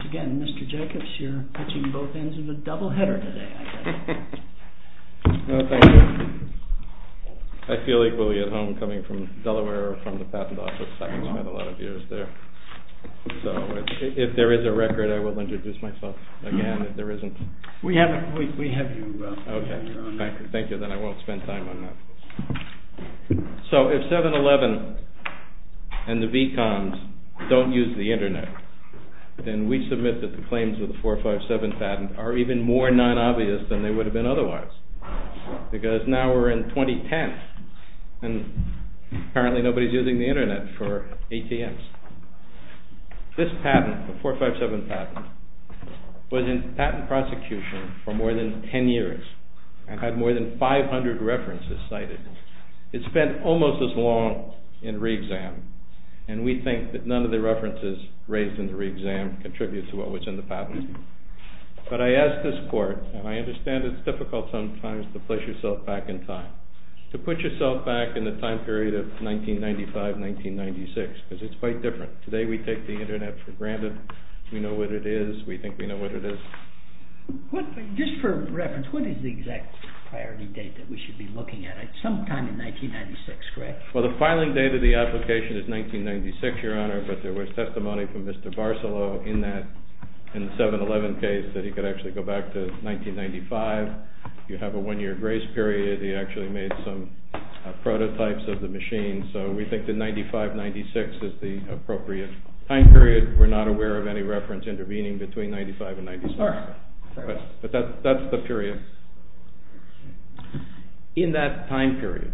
Again, Mr. Jacobs, you're touching both ends of the double-header today, I guess. Well, thank you. I feel equally at home coming from Delaware, from the Patent Office. I spent a lot of years there. So, if there is a record, I will introduce myself again, if there isn't. We have you, Ralph. Okay. Thank you. Then I won't spend time on that. So, if 7-Eleven and the V-Coms don't use the Internet, then we submit that the claims of the 457 patent are even more non-obvious than they would have been otherwise. Because now we're in 2010, and apparently nobody's using the Internet for ATMs. This patent, the 457 patent, was in patent prosecution for more than 10 years, and had more than 500 references cited. It spent almost as long in re-exam, and we think that none of the references raised in the re-exam contribute to what was in the patent. But I ask this court, and I understand it's difficult sometimes to place yourself back in time, to put yourself back in the time period of 1995-1996, because it's quite different. Today we take the Internet for granted. We know what it is. We think we know what it is. Just for reference, what is the exact priority date that we should be looking at? Sometime in 1996, correct? Well, the filing date of the application is 1996, Your Honor, but there was testimony from Mr. Barcelo in that, in the 7-Eleven case, that he could actually go back to 1995. You have a one-year grace period. He actually made some prototypes of the machine. So we think that 95-96 is the appropriate time period. We're not aware of any reference intervening between 95-96, but that's the period. In that time period,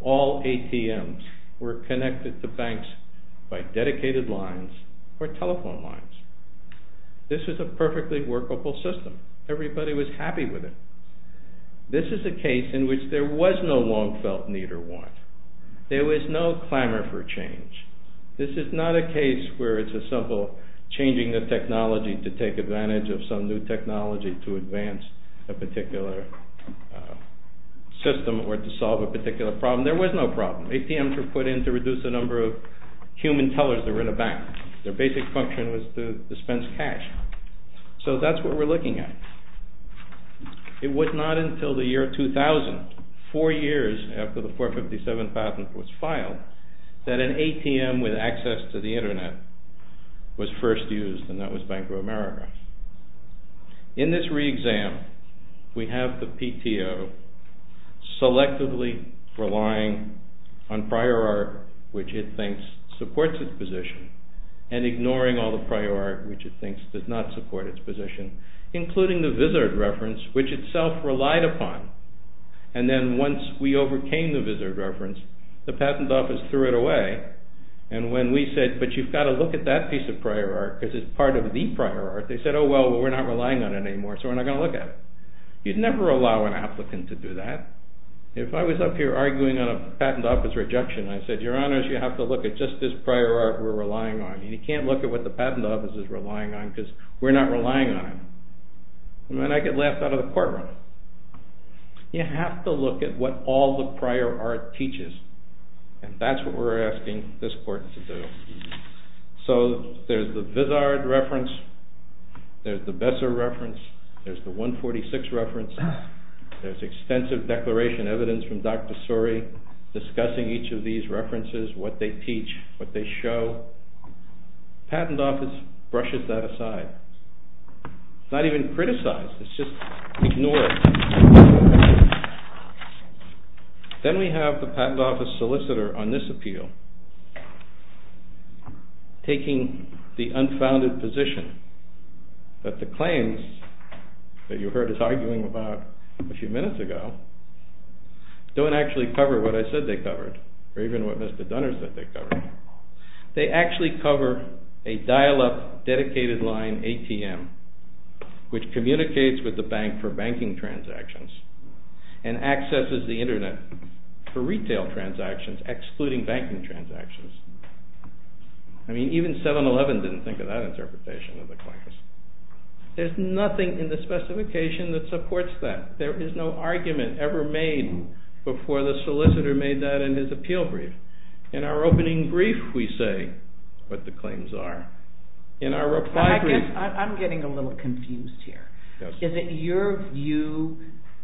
all ATMs were connected to banks by dedicated lines or telephone lines. This is a perfectly workable system. Everybody was happy with it. This is a case in which there was no long-felt need or want. There was no clamor for change. This is not a case where it's as simple changing the technology to take advantage of some new technology to advance a particular system or to solve a particular problem. There was no problem. ATMs were put in to reduce the number of human tellers that were in a bank. Their basic function was to dispense cash. So that's what we're looking at. It was not until the year 2000, four years after the 457 patent was filed, that an ATM with access to the Internet was first used, and that was Bank of America. In this re-exam, we have the PTO selectively relying on prior art, which it thinks supports its position, and ignoring all the prior art, which it thinks does not support its position, including the Visard reference, which itself relied upon. And then once we overcame the Visard reference, the patent office threw it away, and when we said, but you've got to look at that piece of prior art, because it's part of the prior art, they said, oh well, we're not relying on it anymore, so we're not going to look at it. You'd never allow an applicant to do that. If I was up here arguing on a patent office rejection, I said, your honors, you have to look at just this prior art we're relying on. You can't look at what the patent office is relying on, because we're not relying on it. And then I get laughed out of the courtroom. You have to look at what all the prior art teaches, and that's what we're asking this court to do. So there's the Visard reference, there's the Besser reference, there's the 146 reference, there's extensive declaration evidence from Dr. Suri discussing each of these references, what they teach, what they show. The patent office brushes that aside. It's not even criticized, it's just ignored. Then we have the patent office solicitor on this appeal taking the unfounded position that the claims that you heard us arguing about a few minutes ago don't actually cover what I said they covered, or even what Mr. Dunner said they covered. They actually cover a dial-up dedicated line ATM which communicates with the bank for banking transactions and accesses the internet for retail transactions, excluding banking transactions. I mean, even 7-Eleven didn't think of that interpretation of the claims. There's nothing in the specification that supports that. There is no argument ever made before the solicitor made that in his appeal brief. In our opening brief, we say what the claims are. In our reply brief... I'm getting a little confused here. Is it your view...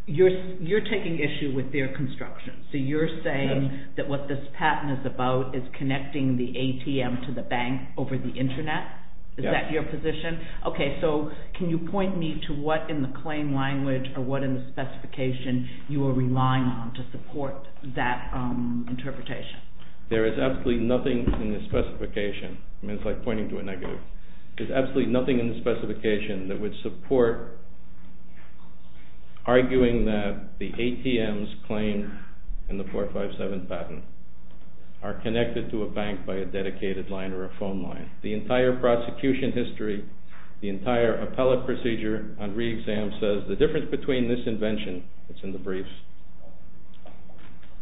You're taking issue with their construction, so you're saying that what this patent is about is connecting the ATM to the bank over the internet? Is that your position? Okay, so can you point me to what in the claim language or what in the specification you are relying on to support that interpretation? There is absolutely nothing in the specification. I mean, it's like pointing to a negative. There's absolutely nothing in the specification that would support arguing that the ATM's claim and the 457 patent are connected to a bank by a dedicated line or a phone line. The entire prosecution history, the entire appellate procedure on re-exam says the difference between this invention, it's in the brief,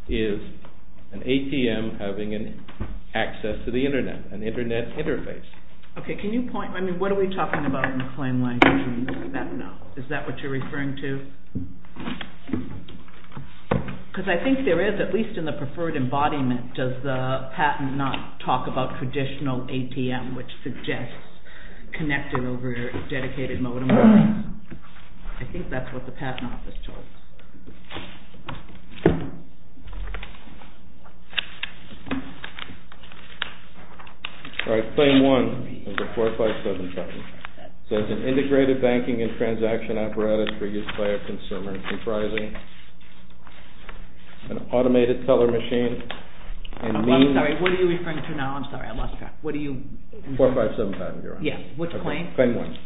is an ATM having access to the internet, an internet interface. Okay, can you point... I mean, what are we talking about in the claim language? I don't know. Is that what you're referring to? Because I think there is, at least in the preferred embodiment, does the patent not talk about traditional ATM which suggests connecting over a dedicated modem? I think that's what the patent office told us. All right, claim 1 of the 457 patent. It says an integrated banking and transaction apparatus for use by a consumer comprising an automated teller machine... I'm sorry, what are you referring to now? 457 patent, you're right. Which claim? Claim 1.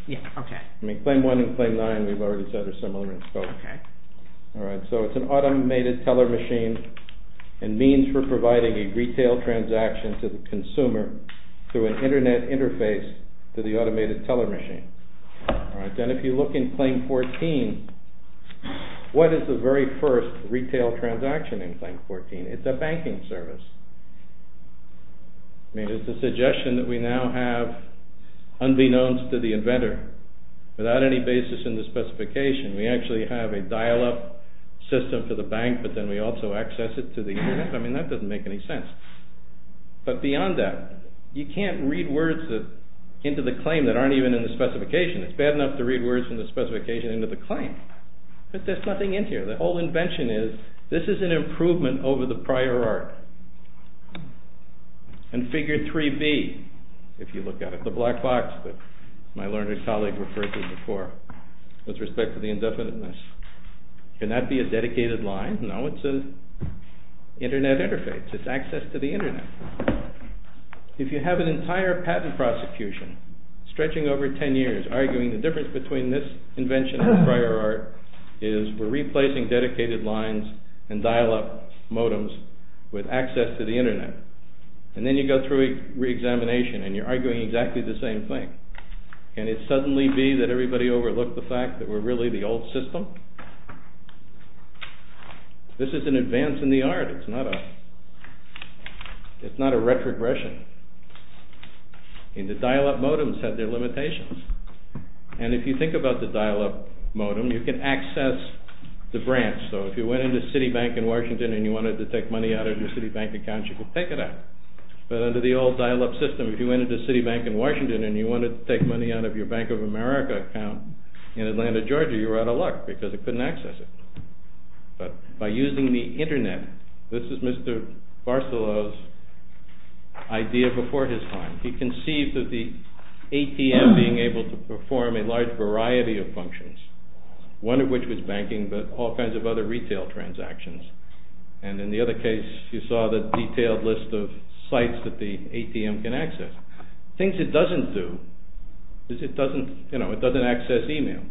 Claim 1 and Claim 9 we've already said are similar in scope. All right, so it's an automated teller machine and means for providing a retail transaction to the consumer through an internet interface to the automated teller machine. Then if you look in Claim 14, what is the very first retail transaction in Claim 14? It's a banking service. It's a suggestion that we now have, unbeknownst to the inventor, without any basis in the specification, we actually have a dial-up system for the bank but then we also access it through the internet. I mean, that doesn't make any sense. But beyond that, you can't read words into the claim that aren't even in the specification. It's bad enough to read words in the specification into the claim, but there's nothing in here. The whole invention is this is an improvement over the prior art and Figure 3B, if you look at it, the black box that my learned colleague referred to before with respect to the indefiniteness. Can that be a dedicated line? No, it's an internet interface. It's access to the internet. If you have an entire patent prosecution stretching over 10 years arguing the difference between this invention and prior art is we're replacing dedicated lines and dial-up modems with access to the internet. And then you go through re-examination and you're arguing exactly the same thing. Can it suddenly be that everybody overlooked the fact that we're really the old system? This is an advance in the art. It's not a retrogression. And the dial-up modems have their limitations. And if you think about the dial-up modem, you can access the branch. So if you went into Citibank in Washington and you wanted to take money out of your Citibank account, you could take it out. But under the old dial-up system, if you went into Citibank in Washington and you wanted to take money out of your Bank of America account in Atlanta, Georgia, you were out of luck because it couldn't access it. But by using the internet, this is Mr. Barcelo's idea before his time. He conceived of the ATM being able to perform a large variety of functions, one of which was banking but all kinds of other retail transactions. And in the other case, you saw the detailed list of sites that the ATM can access. Things it doesn't do is it doesn't access email.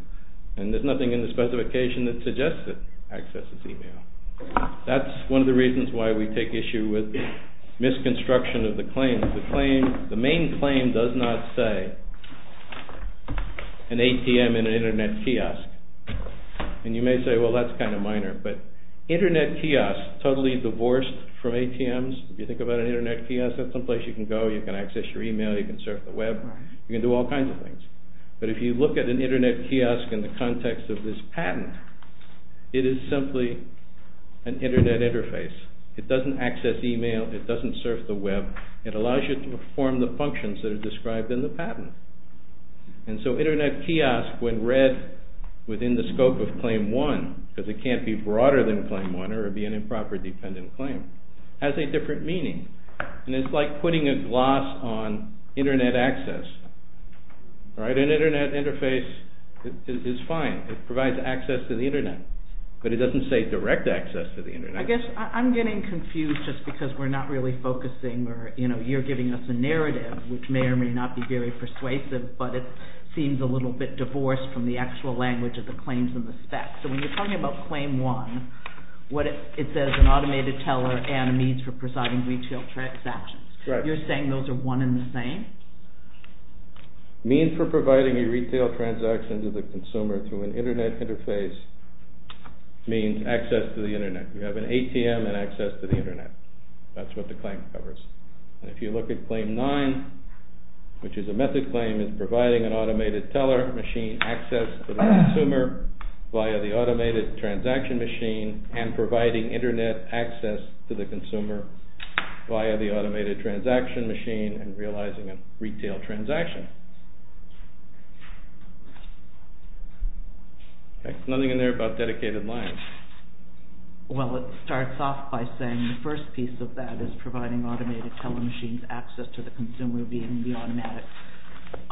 And there's nothing in the specification that suggests it accesses email. That's one of the reasons why we take issue with misconstruction of the claim. The main claim does not say an ATM in an internet kiosk. And you may say, well, that's kind of minor. But internet kiosks, totally divorced from ATMs, if you think about an internet kiosk, that's someplace you can go, you can access your email, you can surf the web, you can do all kinds of things. But if you look at an internet kiosk in the context of this patent, it is simply an internet interface. It doesn't access email, it doesn't surf the web. It allows you to perform the functions that are described in the patent. And so internet kiosk, when read within the scope of Claim 1, because it can't be broader than Claim 1 or be an improper dependent claim, has a different meaning. And it's like putting a gloss on internet access. An internet interface is fine. It provides access to the internet. But it doesn't say direct access to the internet. I guess I'm getting confused just because we're not really focusing or you're giving us a narrative which may or may not be very persuasive, but it seems a little bit divorced from the actual language of the claims and the specs. So when you're talking about Claim 1, it says an automated teller and a means for providing retail transactions. You're saying those are one and the same? Means for providing a retail transaction to the consumer through an internet interface means access to the internet. You have an ATM and access to the internet. That's what the claim covers. If you look at Claim 9, which is a method claim, it's providing an automated teller machine access to the consumer via the automated transaction machine and providing internet access to the consumer via the automated transaction machine and realizing a retail transaction. Nothing in there about dedicated lines. Well, it starts off by saying the first piece of that is providing automated teller machines access to the consumer via the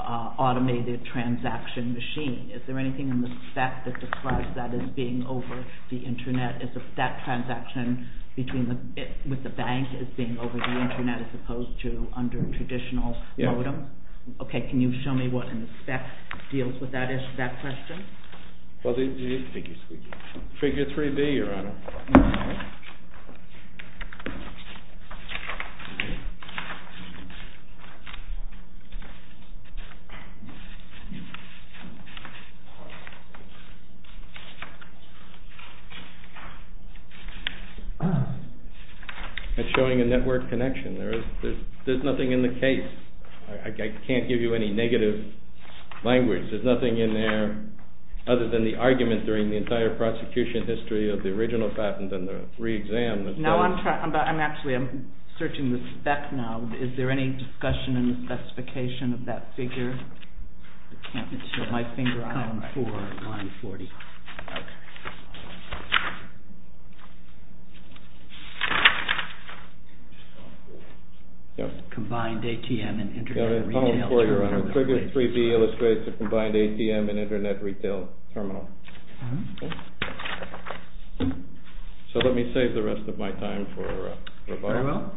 automated transaction machine. Is there anything in the spec that declines that as being over the internet? Is that transaction with the bank as being over the internet as opposed to under traditional modem? deals with that question? Figure 3B, Your Honor. Showing a network connection. There's nothing in the case. I can't give you any negative language. There's nothing in there other than the argument during the entire prosecution history of the original patent and the re-exam. I'm a big fan of the patent. I'm a big fan of the patent. I'm searching the spec now. Is there any discussion in the specification of that figure? I can't feel my finger on it. Column 4, line 40. Combined ATM and internet retail terminal. Figure 3B illustrates the combined ATM and internet retail terminal. So let me save the rest of my time for rebuttal.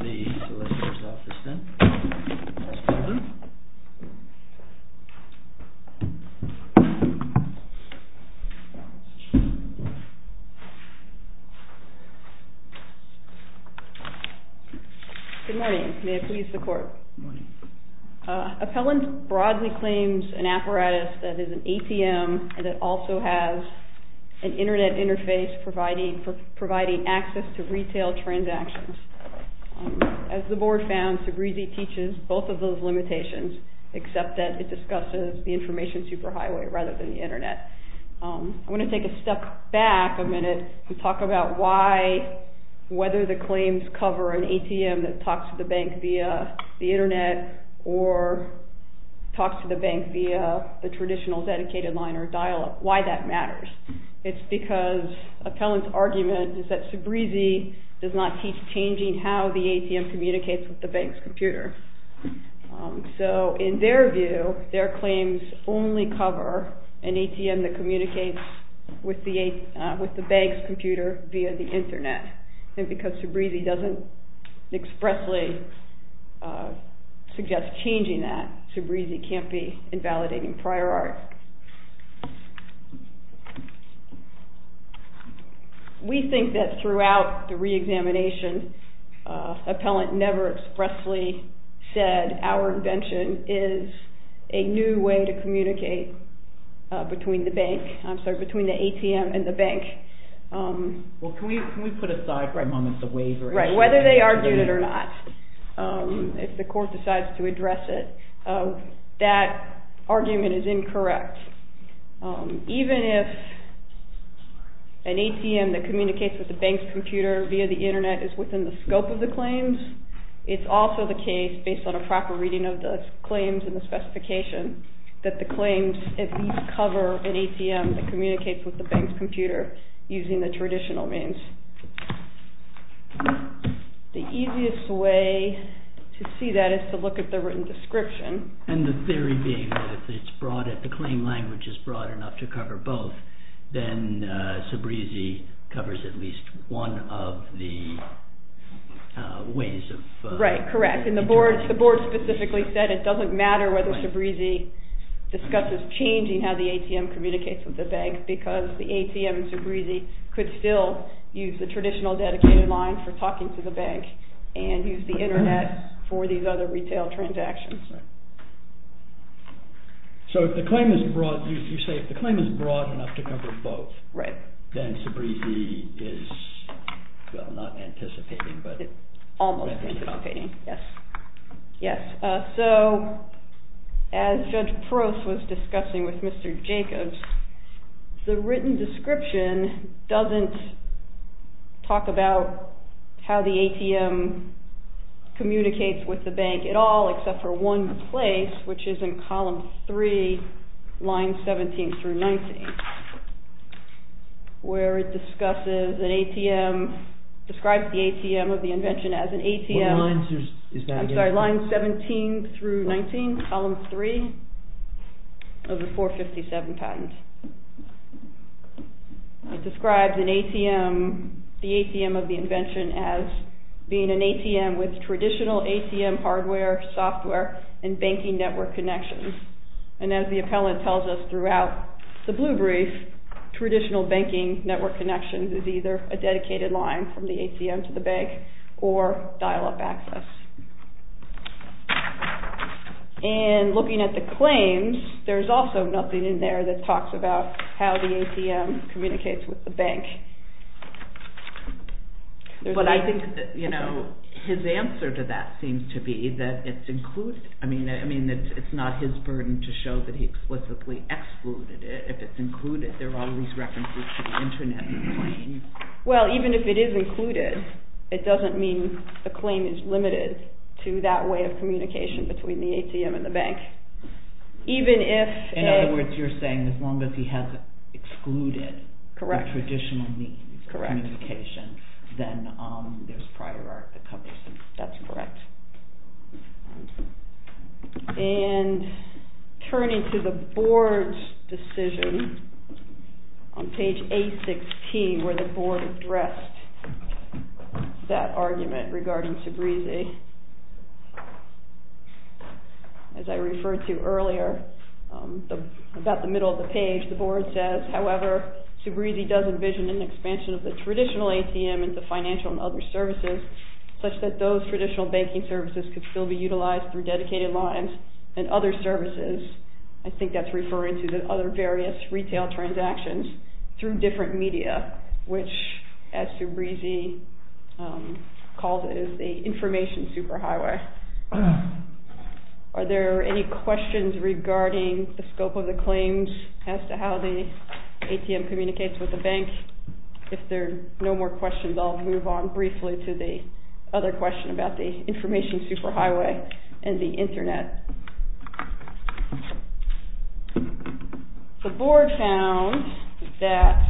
Very well. Good morning. May it please the court. Good morning. Appellant broadly claims an apparatus that is an ATM and that also has an internet interface providing access to retail transactions. As the board found, Segresi teaches both of those limitations except that it discusses the information superhighway rather than the internet. I want to take a step back a minute and talk about why whether the claims cover an ATM that talks to the bank via the internet or talks to the bank via the traditional dedicated line or dial-up. Why that matters. It's because appellant's argument is that Segresi does not teach changing how the ATM communicates with the bank's computer. So in their view, their claims only cover an ATM that communicates with the bank's computer via the internet. And because Segresi doesn't expressly suggest changing that, Segresi can't be invalidating prior art. We think that throughout the re-examination appellant never expressly said our invention is a new way to communicate between the bank I'm sorry, between the ATM and the bank. Well, can we put aside for a moment the wavering? Right, whether they argued it or not. If the court decides to address it, that argument is incorrect. Even if an ATM that communicates with the bank's computer via the internet is within the scope of the claims, it's also the case, based on a proper reading of the claims and the specification, that the claims at least cover an ATM that communicates with the bank's computer using the traditional means. The easiest way to see that is to look at the written description. And the theory being that if the claim language is broad enough to cover both, then Segresi covers at least one of the ways of... Right, correct. And the board specifically said it doesn't matter whether Segresi discusses changing how the ATM communicates with the bank, because the ATM and Segresi could still use the traditional dedicated line for talking to the bank and use the internet for these other retail transactions. So if the claim is broad, you say if the claim is broad enough to cover both, then Segresi is well, not anticipating, but anticipating. Almost anticipating, yes. So, as Judge Prost was discussing with Mr. Jacobs, the written description doesn't talk about how the ATM communicates with the bank at all, except for one place, which is in column 3, lines 17 through 19, where it describes the ATM of the invention as an ATM... I'm sorry, lines 17 through 19, column 3, of the 457 patent. It describes an ATM, the ATM of the invention, as being an ATM with traditional ATM hardware, software, and banking network connections. And as the appellant tells us throughout the blue brief, traditional banking network connections is either a dedicated line from the ATM to the bank, or dial-up access. And looking at the claims, there's also nothing in there that talks about how the ATM communicates with the bank. But I think that, you know, his answer to that seems to be that it's included. I mean, it's not his burden to show that he explicitly excluded it. If it's included, there are all these references to the Internet. Well, even if it is included, it doesn't mean the claim is limited. to that way of communication between the ATM and the bank. In other words, you're saying as long as he hasn't excluded the traditional means of communication, then there's prior art that covers it. That's correct. And turning to the board's decision on page 816, where the board addressed that argument regarding SUBREZE. As I referred to earlier, about the middle of the page, the board says, however, SUBREZE does envision an expansion of the traditional ATM into financial and other services, such that those traditional banking services could still be utilized through dedicated lines and other services. I think that's referring to the other various retail transactions through different media, which, as SUBREZE calls it, is the information superhighway. Are there any questions regarding the scope of the claims as to how the ATM communicates with the bank? If there are no more questions, I'll move on briefly to the other question about the information superhighway and the internet. The board found that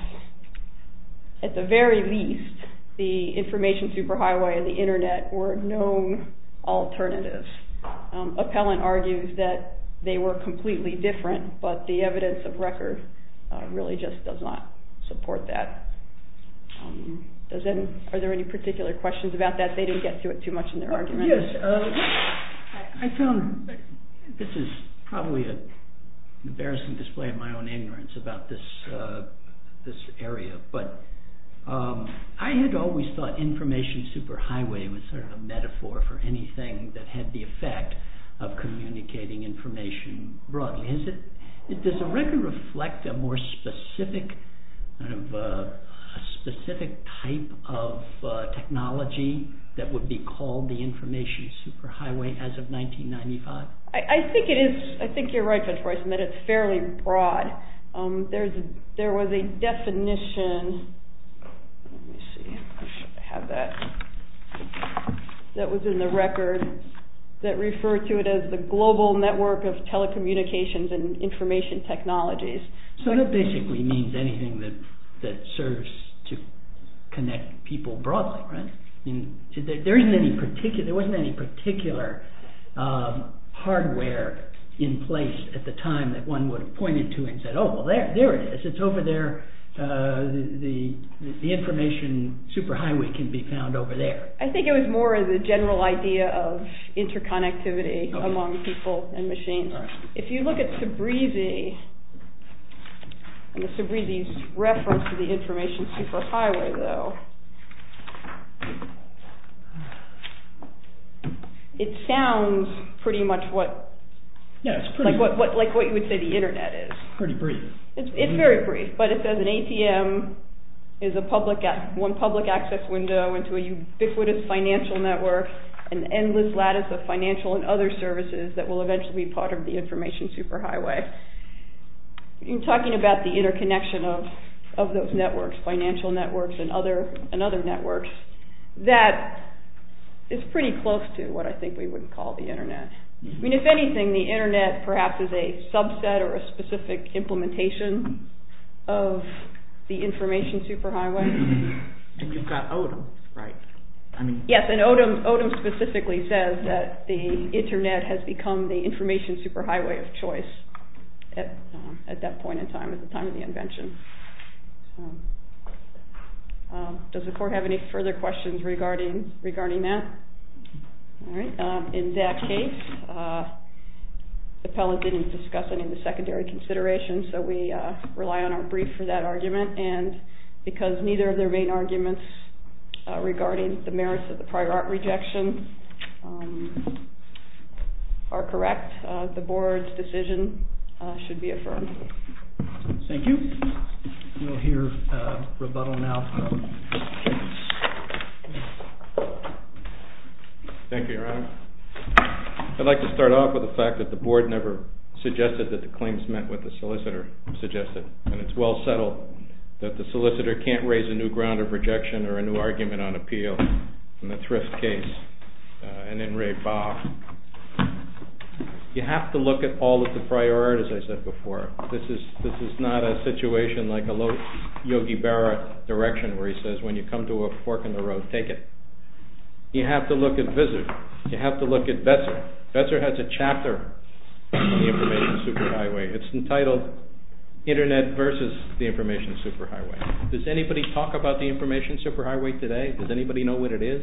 at the very least, the information superhighway and the internet were known alternatives. Appellant argues that they were completely different, but the evidence of record really just does not support that. Are there any particular questions about that? They didn't get to it too much in their argument. I found this is probably an embarrassing display of my own ignorance about this area, but I had always thought information superhighway was sort of a metaphor for anything that had the effect of communicating information broadly. Does the record reflect a more specific type of technology that would be called the information superhighway as of 1995? I think it is. I think you're right, Mr. Royston, that it's fairly broad. There was a definition that was in the record that referred to it as the global network of telecommunications and information technologies. So that basically means anything that serves to connect people broadly, right? There wasn't any particular hardware in place at the time that one would have pointed to and said, oh, well, there it is. It's over there. The information superhighway can be found over there. I think it was more of the general idea of interconnectivity among people and machines. If you look at Cibrizi and Cibrizi's reference to the information superhighway though, it sounds pretty much what you would say the internet is. It's pretty brief. It's very brief, but it says an ATM is one public access window into a ubiquitous financial network, an endless lattice of financial and other services that will eventually be part of the information superhighway. You're talking about the interconnection of those networks, financial networks and other networks that is pretty close to what I think we would call the internet. If anything, the internet perhaps is a subset or a specific implementation of the information superhighway. And you've got Odom, right? Yes, and Odom specifically says that the internet has become the information superhighway of choice at that point in time, at the time of the invention. Does the court have any further questions regarding that? In that case, the appellant didn't discuss any of the secondary considerations, so we rely on our brief for that argument, and because neither of their main arguments regarding the merits of the prior art rejection are correct, the board's decision should be affirmed. Thank you. We'll hear rebuttal now from Mr. Jenkins. Thank you, Your Honor. I'd like to start off with the fact that the board never suggested that the claims met what the solicitor suggested, and it's well settled that the solicitor can't raise a new ground of rejection or a new argument on appeal in the Thrift case and in Raibab. You have to look at all of the prior art, as I said before. This is not a situation like a low Yogi Berra direction where he says, when you come to a fork in the road, take it. You have to look at Visser. You have to look at Vesser. Vesser has a chapter on the Information Superhighway. It's entitled Internet versus the Information Superhighway. Does anybody talk about the Information Superhighway today? Does anybody know what it is?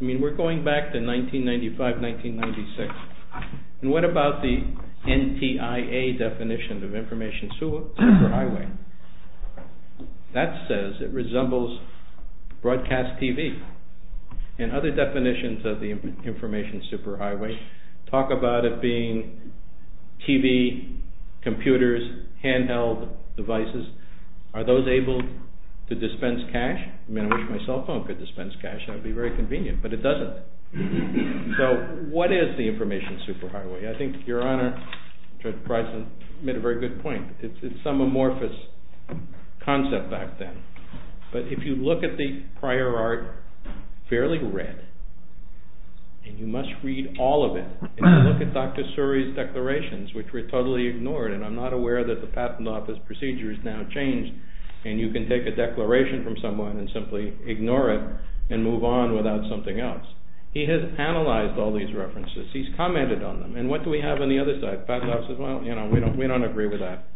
I mean, we're going back to 1995, 1996, and what about the NTIA definition of Information Superhighway? That says it resembles broadcast TV, and other definitions of the Information Superhighway talk about it being TV, computers, handheld devices. Are those able to dispense cash? I mean, I wish my cell phone could dispense cash. That would be very convenient, but it doesn't. So what is the Information Superhighway? I think Your Honor, Judge it's some amorphous concept back then, but if you look at the prior art, fairly red, and you must read all of it, and you look at Dr. Suri's declarations, which were totally ignored, and I'm not aware that the Patent Office procedure has now changed, and you can take a declaration from someone and simply ignore it and move on without something else. He has analyzed all these references. He's commented on them, and what do we have on the other side? Patent Office says, well, we don't agree with that.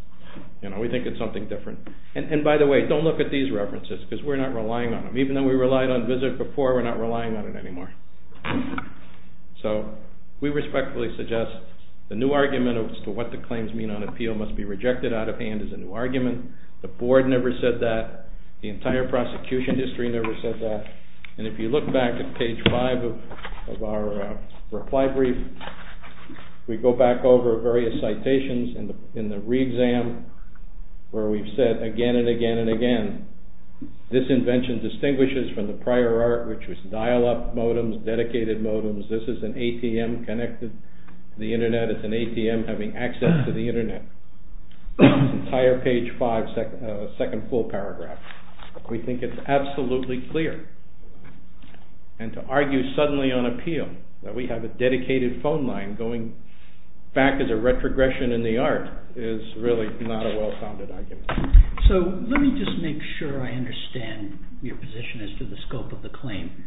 We think it's something different. And by the way, don't look at these references, because we're not relying on them. Even though we relied on VISIT before, we're not relying on it anymore. So, we respectfully suggest the new argument as to what the claims mean on appeal must be rejected out of hand as a new argument. The Board never said that. The entire prosecution history never said that. And if you look back at page 5 of our reply brief, we go back over various citations in the re-exam where we've said again and again and again, this invention distinguishes from the prior art, which was dial-up modems, dedicated modems. This is an ATM connected to the Internet. It's an ATM having access to the Internet. Entire page 5, second full paragraph. We think it's absolutely clear. And to argue suddenly on a dedicated phone line going back as a retrogression in the art is really not a well-founded argument. So, let me just make sure I understand your position as to the scope of the claim.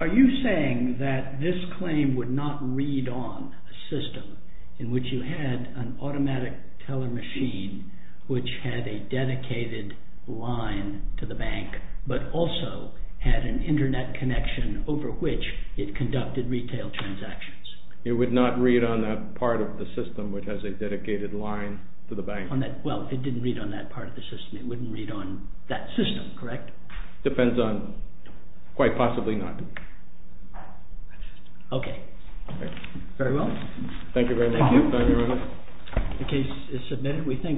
Are you saying that this claim would not read on a system in which you had an automatic teller machine, which had a dedicated line to the bank, but also had an Internet connection over which it conducted retail transactions? It would not read on that part of the system, which has a dedicated line to the bank. Well, if it didn't read on that part of the system, it wouldn't read on that system, correct? Depends on... quite possibly not. Okay. Very well. Thank you very much. Thank you. The case is submitted.